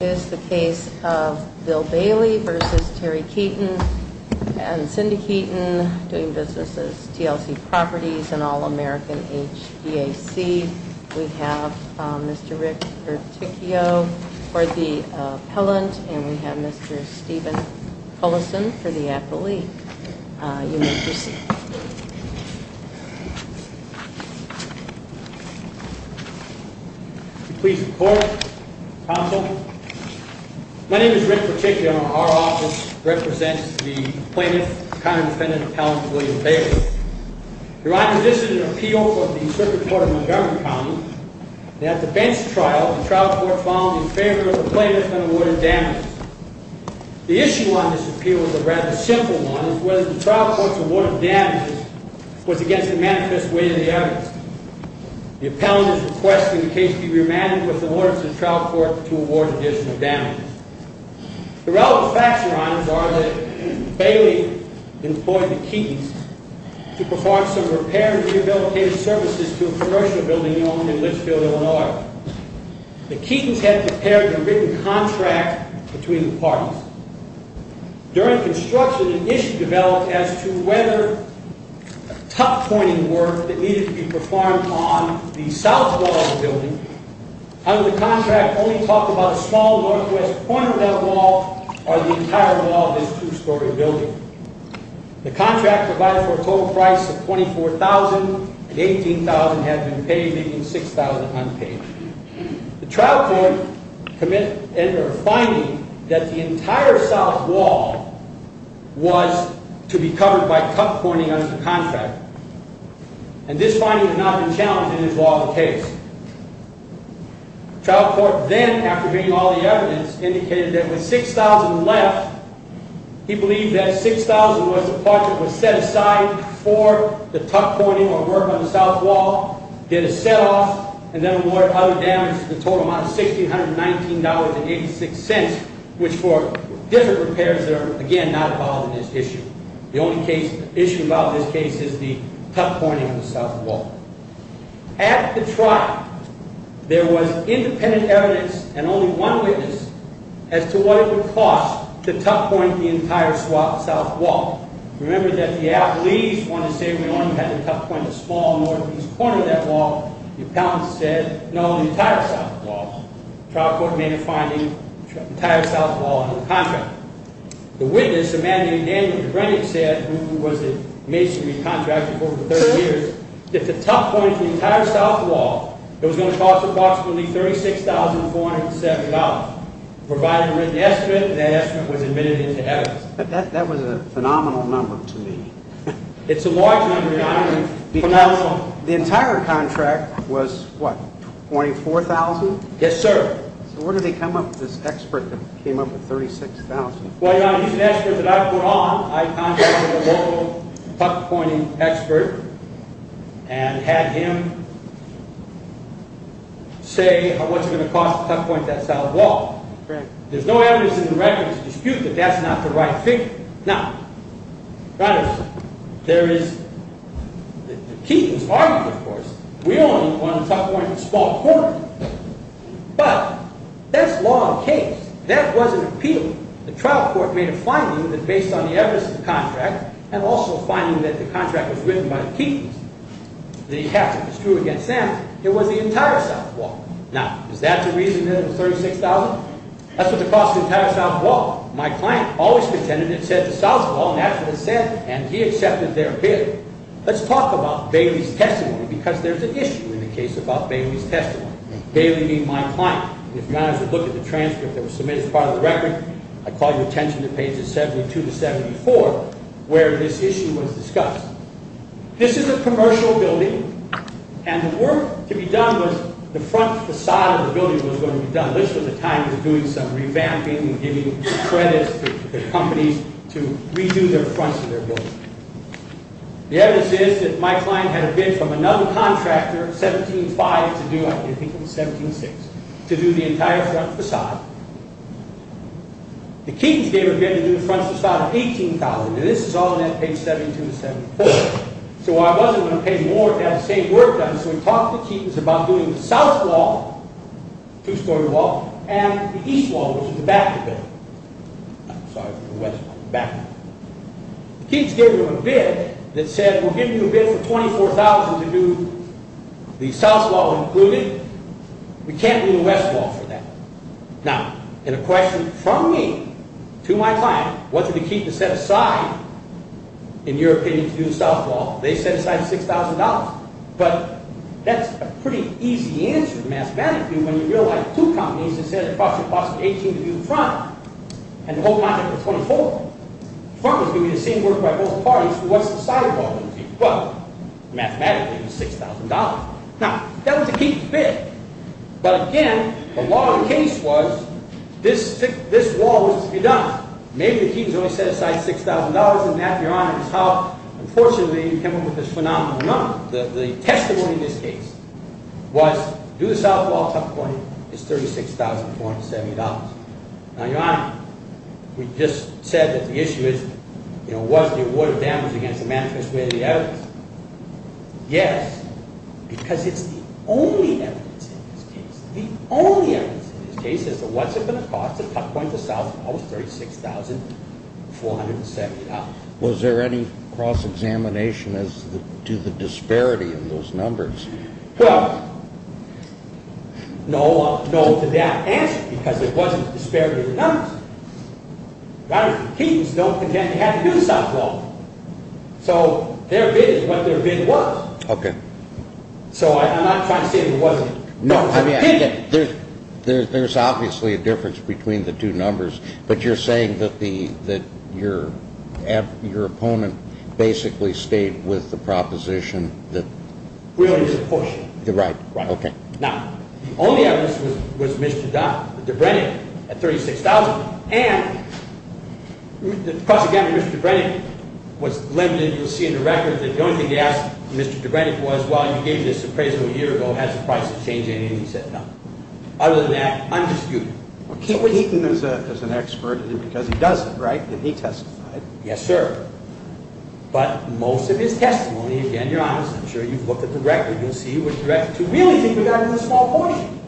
is the case of Bill Bailey versus Terry Keeton and Cindy Keeton doing business as TLC Properties and All-American HVAC. We have Mr. Rick Berticchio for the appellant and we have Mr. Stephen Cullison for the appellee. You may proceed. Please report, counsel. My name is Rick Berticchio and our office represents the plaintiff, counter-defendant appellant William Bailey. Your Honor, this is an appeal for the circuit court of Montgomery County. At the bench trial, the trial court found in favor of the plaintiff and awarded damages. The issue on this appeal is a rather simple one. It's whether the trial court's award of damages was against the manifest way of the evidence. The appellant is requesting the case be remanded with the orders of the trial court to award additional damages. The relevant facts, Your Honor, are that Bailey employed the Keetons to perform some repair and rehabilitative services to a commercial building owned in Litchfield, Illinois. The Keetons had prepared a written contract between the parties. During construction, an issue developed as to whether top-pointing work that needed to be performed on the south wall of the building under the contract only talked about a small northwest corner of that wall or the entire wall of this two-story building. The contract provided for a total price of $24,000 and $18,000 had been paid, leaving $6,000 unpaid. The trial court committed a finding that the entire south wall was to be covered by top-pointing under the contract. And this finding had not been challenged in his law of the case. The trial court then, after hearing all the evidence, indicated that with $6,000 left, he believed that $6,000 was the part that was set aside for the top-pointing or work on the south wall, did a set-off, and then awarded other damages with a total amount of $1,619.86, which for different repairs are, again, not involved in this issue. The only issue about this case is the top-pointing of the south wall. At the trial, there was independent evidence and only one witness as to what it would cost to top-point the entire south wall. Remember that the appellees wanted to say we only had to top-point the small northeast corner of that wall. The appellant said, no, the entire south wall. The trial court made a finding, the entire south wall under the contract. The witness, a man named Daniel Brennan said, who was a masonry contractor for over 30 years, that the top-pointing of the entire south wall, it was going to cost approximately $36,407. Provided written estimate, that estimate was admitted into evidence. That was a phenomenal number to me. It's a large number. The entire contract was, what, $24,000? Yes, sir. Where did they come up with this expert that came up with $36,000? Well, he's an expert that I put on. I contacted a local top-pointing expert and had him say what's going to cost to top-point that south wall. There's no evidence in the record to dispute that that's not the right thing. Now, there is the Keating's argument, of course. We only want to top-point a small corner. But that's law and case. That wasn't appeal. The trial court made a finding that based on the evidence of the contract and also finding that the contract was written by the Keatings, the Catholic was true against them, it was the entire south wall. Now, is that the reason that it was $36,000? That's what the cost of the entire south wall. My client always pretended it said the south wall, and that's what it said, and he accepted their bid. Let's talk about Bailey's testimony because there's an issue in the case about Bailey's testimony. Bailey being my client. If you guys would look at the transcript that was submitted as part of the record, I call your attention to pages 72 to 74, where this issue was discussed. This is a commercial building, and the work to be done was the front facade of the building was going to be done. Now, this was a time of doing some revamping and giving credits to the companies to redo their fronts of their building. The evidence is that my client had a bid from another contractor, 17-5, to do, I think it was 17-6, to do the entire front facade. The Keatings gave a bid to do the front facade of $18,000, and this is all on that page 72 to 74. So I wasn't going to pay more to have the same work done, so we talked to the Keatings about doing the south wall, two-story wall, and the east wall, which was the back of the building. I'm sorry, the west wall, the back of the building. The Keatings gave him a bid that said, we're giving you a bid for $24,000 to do the south wall included. We can't do the west wall for that. Now, in a question from me to my client, what did the Keatings set aside, in your opinion, to do the south wall? They set aside $6,000, but that's a pretty easy answer mathematically when you realize two companies that said it costs you $18,000 to do the front, and the whole project was $24,000. The front was going to be the same work by both parties, so what's the side wall going to be? Well, mathematically, it was $6,000. Now, that was the Keatings' bid, but again, the law of the case was this wall was to be done. Maybe the Keatings only set aside $6,000, and that, Your Honor, is how, unfortunately, you came up with this phenomenal number. The testimony in this case was, do the south wall, tough point, is $36,470. Now, Your Honor, we just said that the issue is, you know, was the award of damage against the management square the evidence? Yes, because it's the only evidence in this case. The only evidence in this case is that what's it going to cost to tough point the south wall was $36,470. Was there any cross-examination as to the disparity in those numbers? Well, no to that answer, because there wasn't a disparity in the numbers. The Keatings don't contend they had to do the south wall, so their bid is what their bid was. Okay. So I'm not trying to say there wasn't. No, I mean, there's obviously a difference between the two numbers, but you're saying that your opponent basically stayed with the proposition that? Really, it was a push. Right. Okay. Now, the only evidence was Mr. Dobrenik at $36,000, and the cross-examination with Mr. Dobrenik was limited. You'll see in the record that the only thing they asked Mr. Dobrenik was, well, you gave this appraisal a year ago. Has the price of change anything? He said no. Other than that, undisputed. Keating is an expert because he does it, right? He testified. Yes, sir. But most of his testimony, again, your Honor, I'm sure you've looked at the record. You'll see which record you really think we got in this small portion.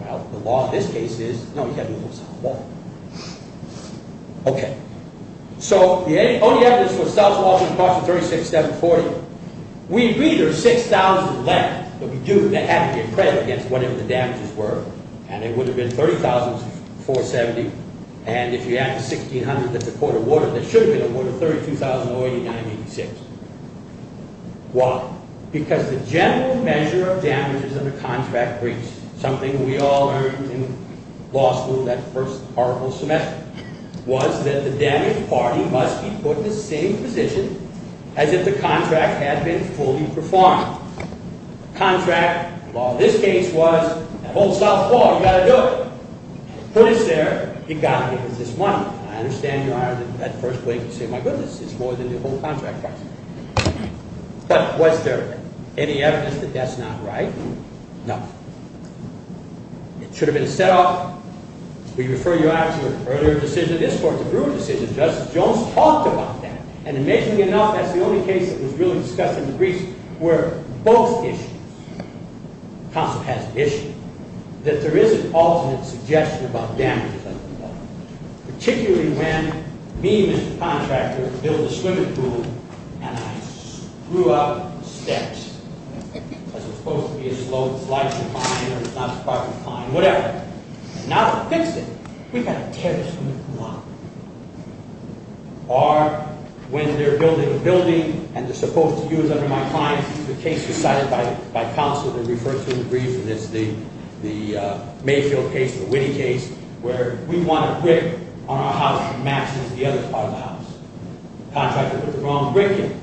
Well, the law in this case is, no, he had to do the south wall. Okay. So the only evidence for the south wall was the cost of $36,740. We agree there's $6,000 left that had to be appraised against whatever the damages were, and it would have been $30,470. And if you add the $1,600, that's a quart of water that should have been a quart of water, $32,089.86. Why? Because the general measure of damages under contract breach, something we all learned in law school that first article of semester, was that the damaged party must be put in the same position as if the contract had been fully performed. Contract law in this case was that whole south wall, you've got to do it. Put us there, you've got to give us this money. I understand, Your Honor, that at first glance you say, my goodness, it's more than the whole contract price. But was there any evidence that that's not right? No. It should have been set up. We refer you out to an earlier decision. This court's a proven decision. Justice Jones talked about that. And amazingly enough, that's the only case that was really discussed in the briefs where both issues, the concept has an issue, that there is an alternate suggestion about damages under the law, particularly when me, Mr. Contractor, built a swimming pool, and I screw up the steps. As opposed to be a slope, slide, or whatever. And now to fix it, we've got to tear this swimming pool up. Or when they're building a building, and they're supposed to use it under my client, the case was cited by counsel that referred to in the brief, and it's the Mayfield case, the Witte case, where we want a brick on our house that matches the other part of the house. Contractor put the wrong brick in.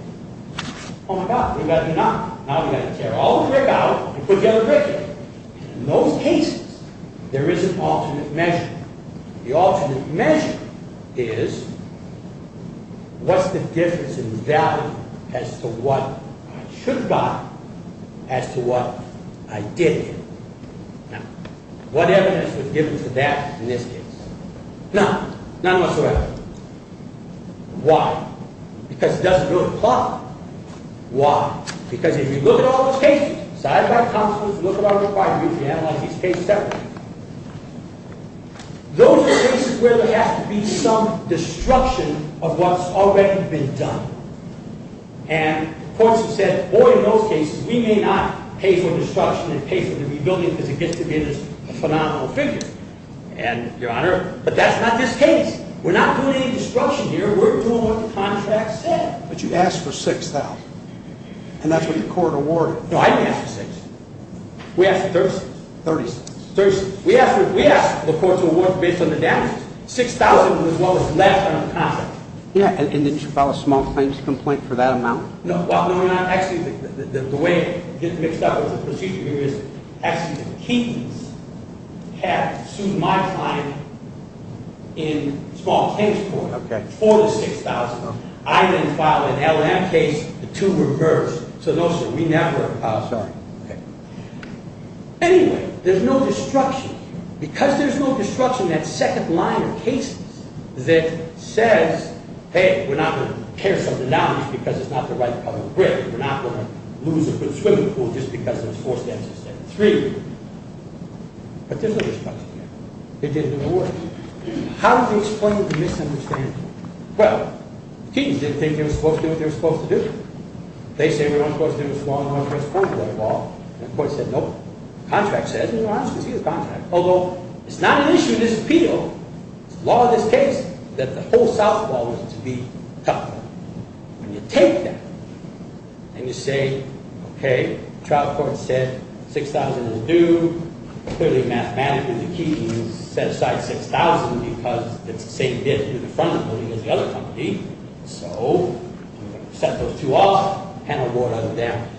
Oh, my God, we better not. Now we've got to tear all the brick out and put the other brick in. And in those cases, there is an alternate measure. The alternate measure is what's the difference in value as to what I should buy as to what I didn't. Now, what evidence was given to that in this case? None. None whatsoever. Why? Because it doesn't really apply. Why? Because if you look at all those cases, cited by counsel, if you look at our required review to analyze these cases separately, those are cases where there has to be some destruction of what's already been done. And courts have said, boy, in those cases, we may not pay for destruction and pay for the rebuilding because it gets to be in this phenomenal figure. And, Your Honor, but that's not this case. We're not doing any destruction here. We're doing what the contract said. But you asked for $6,000, and that's what the court awarded. No, I didn't ask for $6,000. We asked for $30,000. $30,000. $30,000. We asked the courts to award based on the damages. $6,000 was what was left on the contract. Yeah, and didn't you file a small claims complaint for that amount? No. Actually, the way it gets mixed up with the procedure here is, actually, the Keatons have sued my client in small claims court for the $6,000. I then filed an LM case to reverse. So, no, sir, we never filed. Sorry. Okay. Anyway, there's no destruction. Because there's no destruction, that second line of cases that says, hey, we're not going to tear something down just because it's not the right color of brick. We're not going to lose a swimming pool just because there's four steps instead of three. But there's no destruction here. It didn't award. How do we explain the misunderstanding? Well, the Keatons didn't think they were supposed to do what they were supposed to do. They say we're not supposed to do this law, and we're not supposed to do that law. And the court said, nope. The contract says we're not supposed to do the contract. Although, it's not an issue of disappeal. It's the law of this case that the whole softball is to be toughened. When you take that and you say, okay, the trial court said 6,000 is due. Clearly, mathematically, the Keatons set aside 6,000 because it's the same debt to the front of the building as the other company. So, set those two off and award other damages.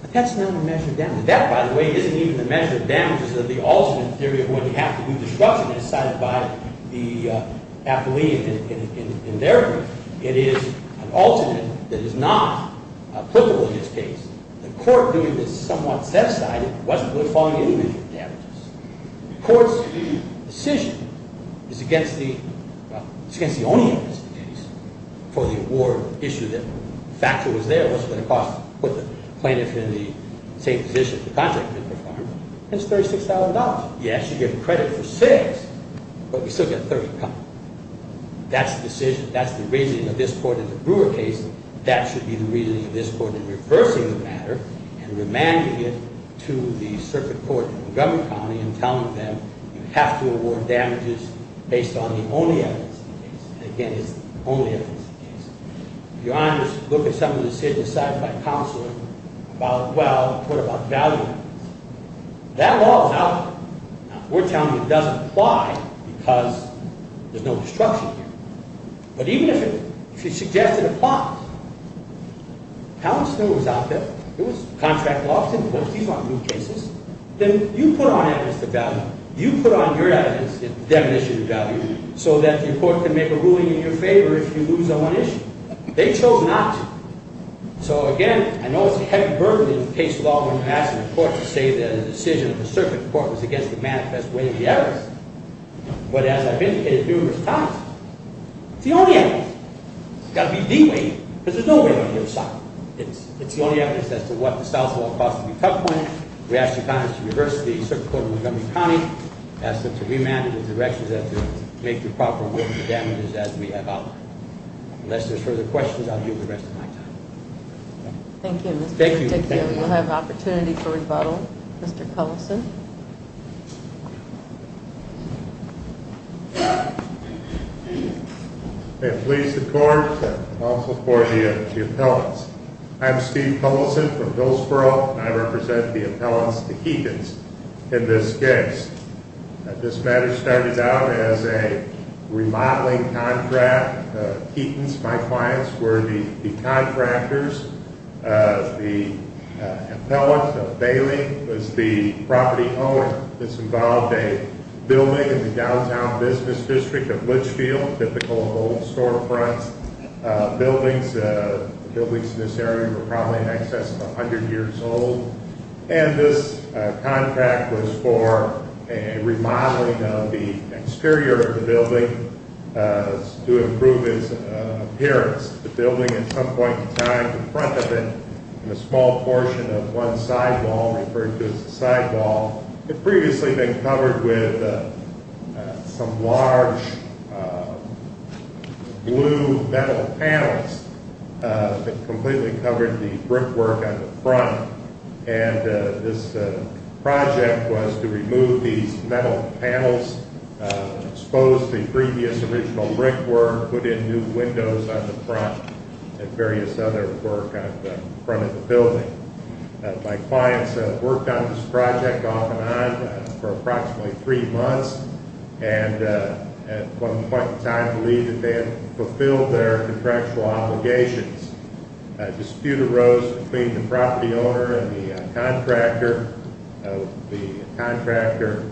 But that's not a measure of damage. That, by the way, isn't even a measure of damage. It's a measure of the alternate theory of what you have to do. The structure is decided by the athlete in their group. It is an alternate that is not applicable in this case. The court, doing this somewhat set aside, wasn't really following any of the damages. The court's decision is against the only case for the award issue that factor was there. What's it going to cost to put the plaintiff in the same position the Yes, you get credit for 6, but you still get 30 pounds. That's the decision. That's the reasoning of this court in the Brewer case. That should be the reasoning of this court in reversing the matter and remanding it to the circuit court in Montgomery County and telling them, you have to award damages based on the only evidence in the case. Again, it's the only evidence in the case. If you're honest, look at some of the decisions decided by counsel about, well, what about value? That law is out there. We're telling you it doesn't apply because there's no destruction here. But even if you suggest it applies, how is it out there? It was contract law. These aren't new cases. Then you put on evidence the value. You put on your evidence the definition of value so that the court can make a ruling in your favor if you lose on one issue. They chose not to. It's important to say that a decision of the circuit court was against the manifest way of the evidence. But as I've indicated numerous times, it's the only evidence. It's got to be deeply, because there's no way on the other side. It's the only evidence as to what the south wall cost to be cut point. We ask the Congress to reverse the circuit court in Montgomery County, ask them to remand it in the direction that they make the proper award for damages as we have outlined. Unless there's further questions, I'll deal with the rest of my time. Thank you. Thank you. We'll have an opportunity for rebuttal. Mr. Cullison. I'm pleased to report that I'll support the appellants. I'm Steve Cullison from Hillsborough, and I represent the appellants, the Keatons, in this case. This matter started out as a remodeling contract. Keatons, my clients, were the contractors. The appellant, the bailing, was the property owner. This involved a building in the downtown business district of Litchfield, typical of old storefront buildings. The buildings in this area were probably in excess of 100 years old. And this contract was for a remodeling of the exterior of the building to improve its appearance. The building at some point in time, the front of it, and a small portion of one side wall referred to as the side wall, had previously been covered with some large blue metal panels that completely covered the brickwork on the front. And this project was to remove these metal panels, expose the previous original brickwork, put in new windows on the front, and various other work on the front of the building. My clients worked on this project off and on for approximately three months, and at one point in time believed that they had fulfilled their contractual obligations. A dispute arose between the property owner and the contractor. The contractor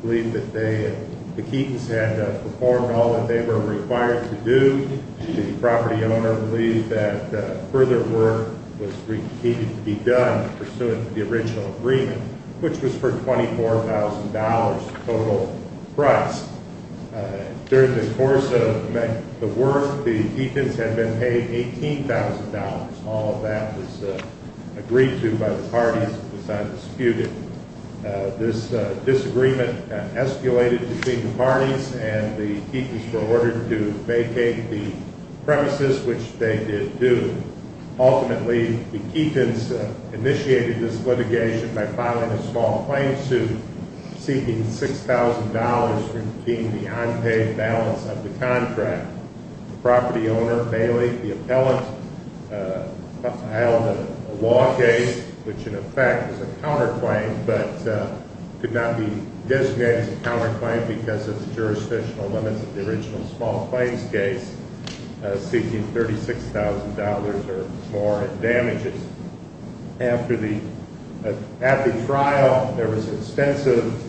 believed that the Keatons had performed all that they were required to do. The property owner believed that further work was needed to be done pursuant to the original agreement, which was for $24,000 total price. During the course of the work, the Keatons had been paid $18,000. All of that was agreed to by the parties and was undisputed. This disagreement escalated between the parties, and the Keatons were ordered to vacate the premises, which they did do. Ultimately, the Keatons initiated this litigation by filing a small claim suit seeking $6,000 for keeping the unpaid balance of the contract. The property owner, Bailey, the appellant, filed a law case, which in effect was a counterclaim but could not be designated as a counterclaim because of the jurisdictional limits of the original small claims case, seeking $36,000 or more in damages. At the trial, there was extensive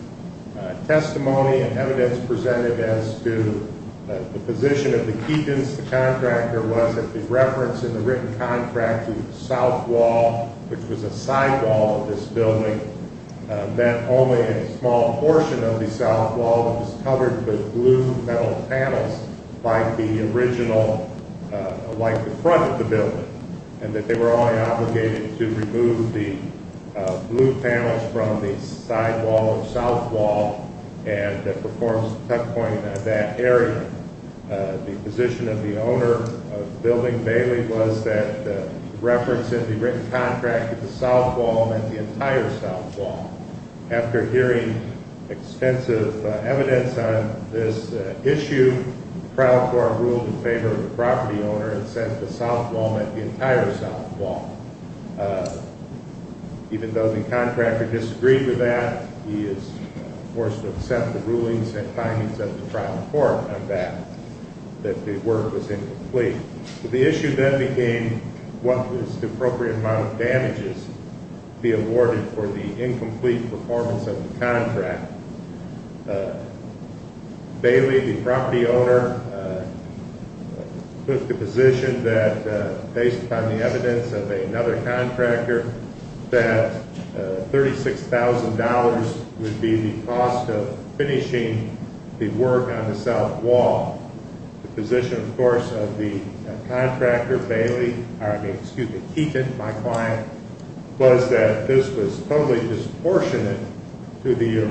testimony and evidence presented as to the position of the Keatons. The contractor was that the reference in the written contract to the south wall, which was a side wall of this building, meant only a small portion of the south wall was covered with blue metal panels like the original, like the front of the building, and that they were only obligated to remove the blue panels from the side wall of the south wall and that performs the checkpoint in that area. The position of the owner of the building, Bailey, was that the reference in the written contract to the south wall meant the entire south wall. After hearing extensive evidence on this issue, the trial court ruled in favor of the property owner and said the south wall meant the entire south wall. Even though the contractor disagreed with that, he was forced to accept the rulings and findings of the trial court on that, that the work was incomplete. The issue then became what was the appropriate amount of damages to be awarded for the incomplete performance of the contract. Bailey, the property owner, took the position that, based on the evidence of another contractor, that $36,000 would be the cost of finishing the work on the south wall. The position, of course, of the contractor, Keaton, my client, was that this was totally disproportionate to the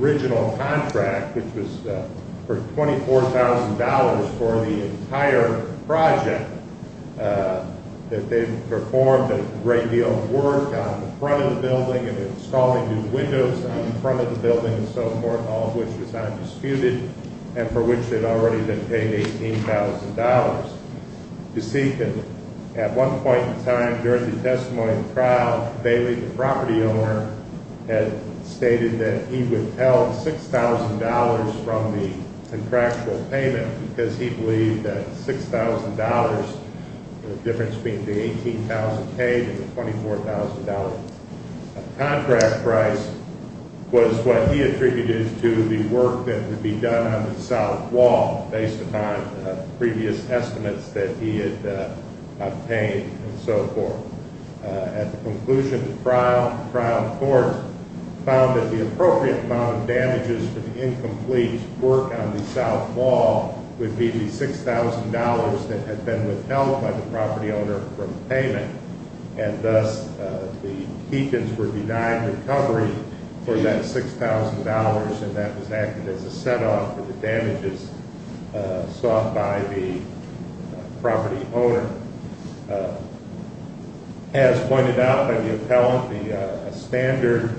original contract, which was for $24,000 for the entire project, that they performed a great deal of work on the front of the building and installing new windows on the front of the building and so forth, all of which was undisputed and for which they'd already been paid $18,000. You see, at one point in time during the testimony of the trial, Bailey, the property owner, had stated that he would tell $6,000 from the contractual payment because he believed that $6,000, the difference being the $18,000 paid and the $24,000 contract price, was what he attributed to the work that would be done on the south wall based upon previous estimates that he had obtained and so forth. At the conclusion of the trial, the trial court found that the appropriate amount of damages for the incomplete work on the south wall would be the $6,000 that had been withheld by the property owner from payment and thus the Keatons were denied recovery for that $6,000 and that was acted as a set-off for the damages sought by the property owner. As pointed out by the appellant, the standard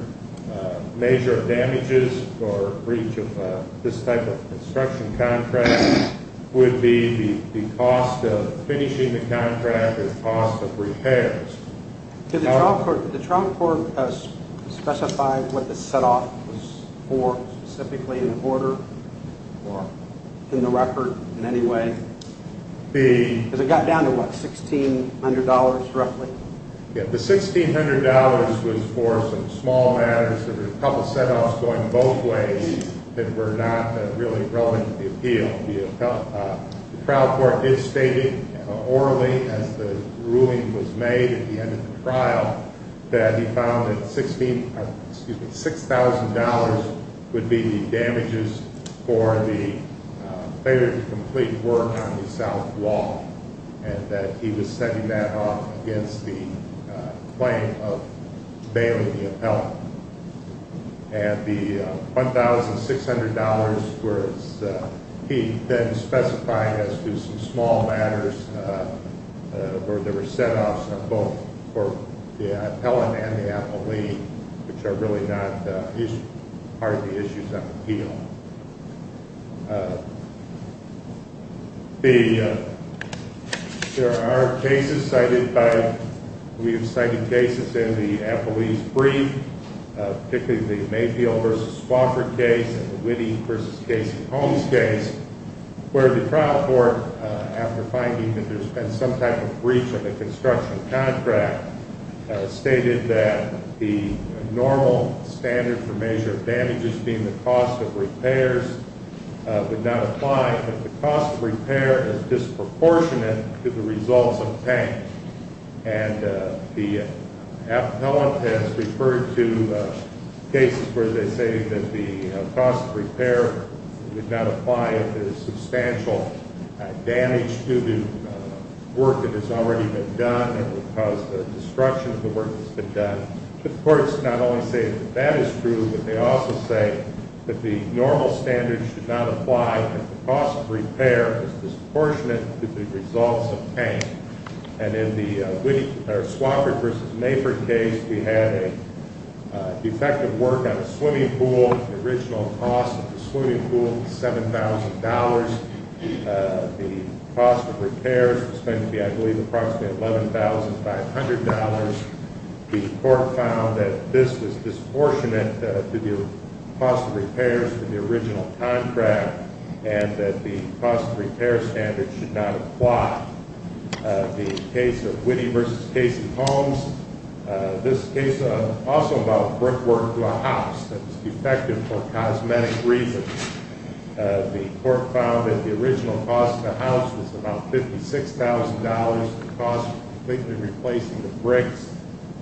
measure of damages for breach of this type of construction contract would be the cost of finishing the contract or the cost of repairs. Did the trial court specify what the set-off was for, specifically in order or in the record in any way? Because it got down to, what, $1,600 roughly? The $1,600 was for some small matters. There were a couple of set-offs going both ways that were not really relevant to the appeal. The trial court did state orally as the ruling was made at the end of the trial that he found that $6,000 would be the damages for the failure to complete work on the south wall and that he was setting that off against the claim of bailing the appellant. And the $1,600 was, he then specified as to some small matters where there were set-offs on both for the appellant and the appellee, which are really not part of the issues on the appeal. There are cases cited by, we have cited cases in the appellee's brief, particularly the Mayfield v. Swofford case and the Whitty v. Casey Holmes case, where the trial court, after finding that there's been some type of breach of the construction contract, stated that the normal standard for measure of damages, being the cost of repairs, would not apply if the cost of repair is disproportionate to the results obtained. And the appellant has referred to cases where they say that the cost of repair would not apply if there's substantial damage due to work that has already been done and would cause the destruction of the work that's been done. The courts not only say that that is true, but they also say that the normal standard should not apply if the cost of repair is disproportionate to the results obtained. And in the Swofford v. Mayfield case, we had a defective work on a swimming pool, the original cost of the swimming pool was $7,000. The cost of repairs was going to be, I believe, approximately $11,500. The court found that this was disproportionate to the cost of repairs for the original contract and that the cost of repair standard should not apply. The case of Whitty v. Casey Holmes, this case is also about brickwork to a house that was defective for cosmetic reasons. The court found that the original cost of the house was about $56,000. The cost of completely replacing the bricks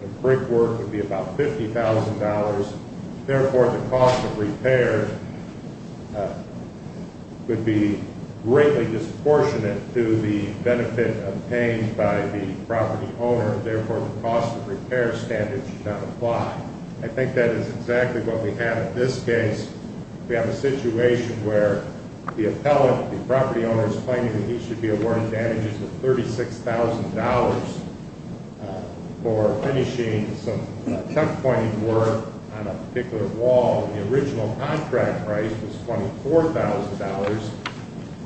and brickwork would be about $50,000. Therefore, the cost of repair would be greatly disproportionate to the benefit obtained by the property owner. Therefore, the cost of repair standard should not apply. I think that is exactly what we have in this case. We have a situation where the appellant, the property owner, is claiming that he should be awarded damages of $36,000 for finishing some checkpointing work on a particular wall. The original contract price was $24,000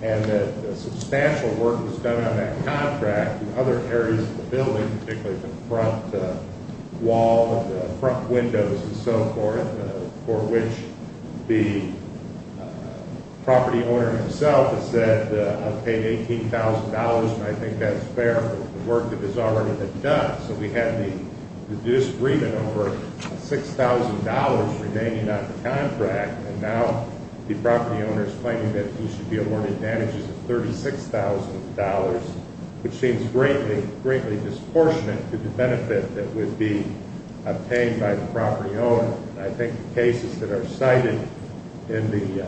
and that substantial work was done on that contract and other areas of the building, particularly the front wall, the front windows, and so forth, for which the property owner himself has said I've paid $18,000 and I think that's fair for the work that has already been done. So we have the disagreement over $6,000 remaining on the contract and now the property owner is claiming that he should be awarded damages of $36,000, which seems greatly disproportionate to the benefit that would be obtained by the property owner. I think the cases that are cited in the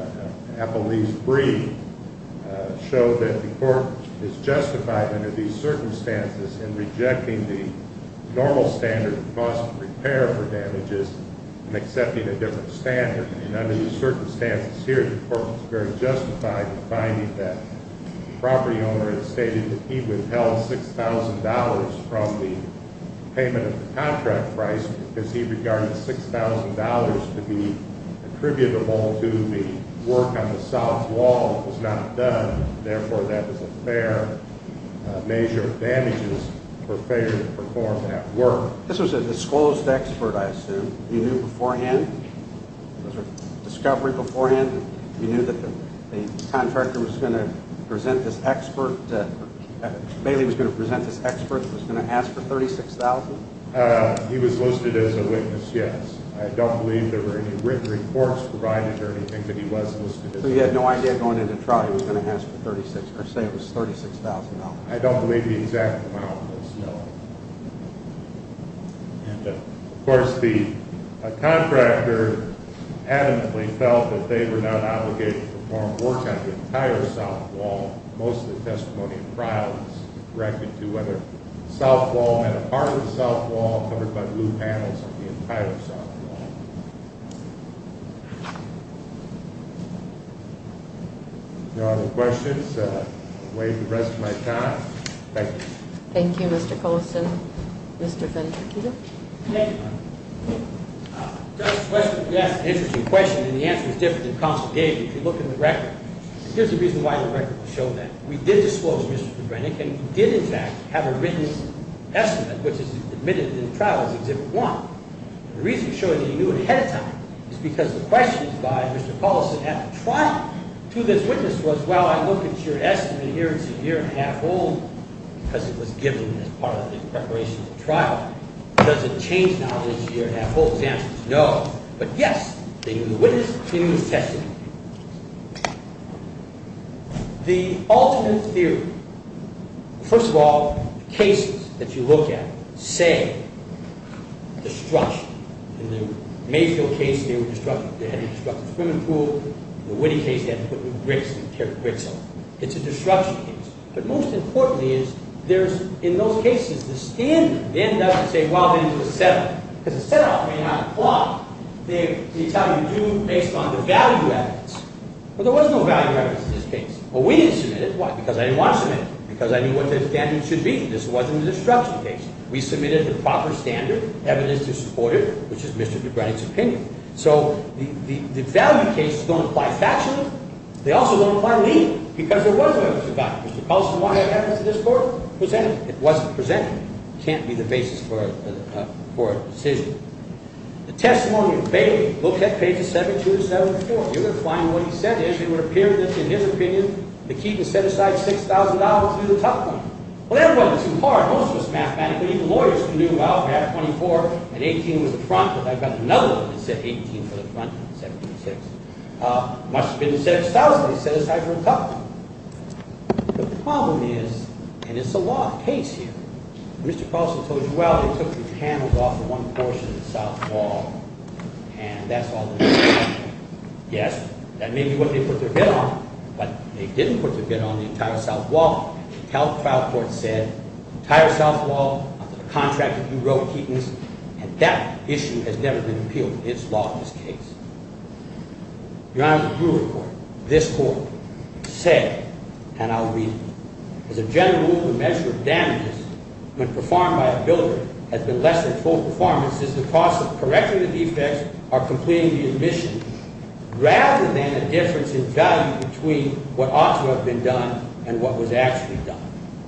appellee's brief show that the court is justified under these circumstances in rejecting the normal standard of cost of repair for damages and accepting a different standard. And under these circumstances here, the court was very justified in finding that the property owner had stated that he withheld $6,000 from the payment of the contract price because he regarded $6,000 to be attributable to the work on the south wall that was not done. Therefore, that was a fair measure of damages for failure to perform that work. This was a disclosed expert, I assume. You knew beforehand? Was there a discovery beforehand? You knew that the contractor was going to present this expert, that Bailey was going to present this expert that was going to ask for $36,000? He was listed as a witness, yes. I don't believe there were any written reports provided or anything that he was listed as a witness. So you had no idea going into trial he was going to ask for $36,000? I don't believe the exact amount was known. Of course, the contractor adamantly felt that they were not obligated to perform work on the entire south wall. Most of the testimony in trial was directed to whether the south wall meant a part of the south wall covered by blue panels or the entire south wall. Thank you. If there are no questions, I'll wait the rest of my time. Thank you. Thank you, Mr. Coulson. Mr. Finch. Thank you. Just a question, yes, an interesting question, and the answer is different than counsel gave. If you look in the record, here's the reason why the record will show that. We did disclose Mr. McGrenick, and we did, in fact, have a written estimate, which is admitted in the trial as Exhibit 1. The reason we show that you knew it ahead of time is because the questions by Mr. Coulson at the trial to this witness was, well, I look at your estimate here, it's a year and a half old because it was given as part of the preparation of the trial. Does it change now that it's a year and a half old? The answer is no, but yes, they knew the witness, they knew his testimony. The ultimate theory, first of all, the cases that you look at say destruction. In the Mayfield case, they had to destruct the swimming pool. In the Witte case, they had to tear the bricks off. It's a destruction case, but most importantly is there's, in those cases, the standard, they end up saying, well, then it's a setup, because a setup may not apply. They tell you do based on the value evidence. Well, there was no value evidence in this case. Well, we didn't submit it. Why? Because I didn't want to submit it, because I knew what the standard should be. This wasn't a destruction case. We submitted the proper standard evidence to support it, which is Mr. Dubranik's opinion. So the value cases don't apply factually. They also don't apply legally, because there was no evidence of value. Mr. Coulson, why have evidence in this court? It wasn't presented. It can't be the basis for a decision. The testimony of Bailey looked at pages 72 and 74. You're going to find what he said is it would appear that, in his opinion, the key to set aside $6,000 would be the top one. Well, that wasn't too hard. Most of it's mathematical. Even lawyers can do, well, perhaps 24 and 18 was the front, but I've got another one that said 18 for the front and 76. It must have been the $6,000 they set aside for the top one. But the problem is, and it's a lot of case here, Mr. Coulson told you, well, someone took the panels off of one portion of the south wall, and that's all there is to it. Yes, that may be what they put their bid on, but they didn't put their bid on the entire south wall. The trial court said the entire south wall under the contract that you wrote, Keaton's, and that issue has never been appealed. It's law in this case. Your Honor, the Brewer Court, this court, said, and I'll read it, as a general rule, the measure of damages when performed by a builder has been less than full performance is the cost of correcting the defects or completing the admission, rather than the difference in value between what ought to have been done and what was actually done.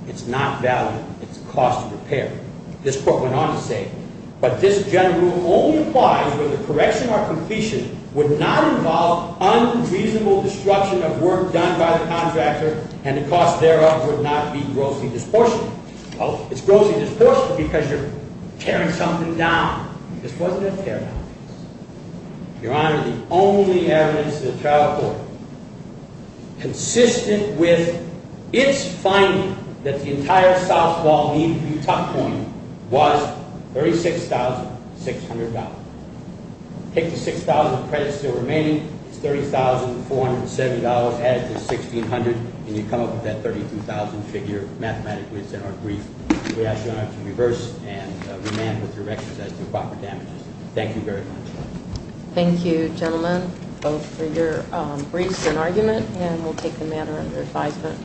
It's not value. It's cost of repair. This court went on to say, but this general rule only applies when the correction or completion would not involve unreasonable destruction of work done by the contractor, and the cost thereof would not be grossly disproportionate. Well, it's grossly disproportionate because you're tearing something down. This wasn't a tear-down case. Your Honor, the only evidence that the trial court, consistent with its finding that the entire south wall needed to be tucked away, was $36,600. Take the $6,000 of credits still remaining. It's $30,470. Add it to $1,600, and you come up with that $32,000 figure mathematically. It's in our brief. We ask Your Honor to reverse and remand with your records as to proper damages. Thank you very much. Thank you, gentlemen, both for your briefs and argument, and we'll take the matter under advisement.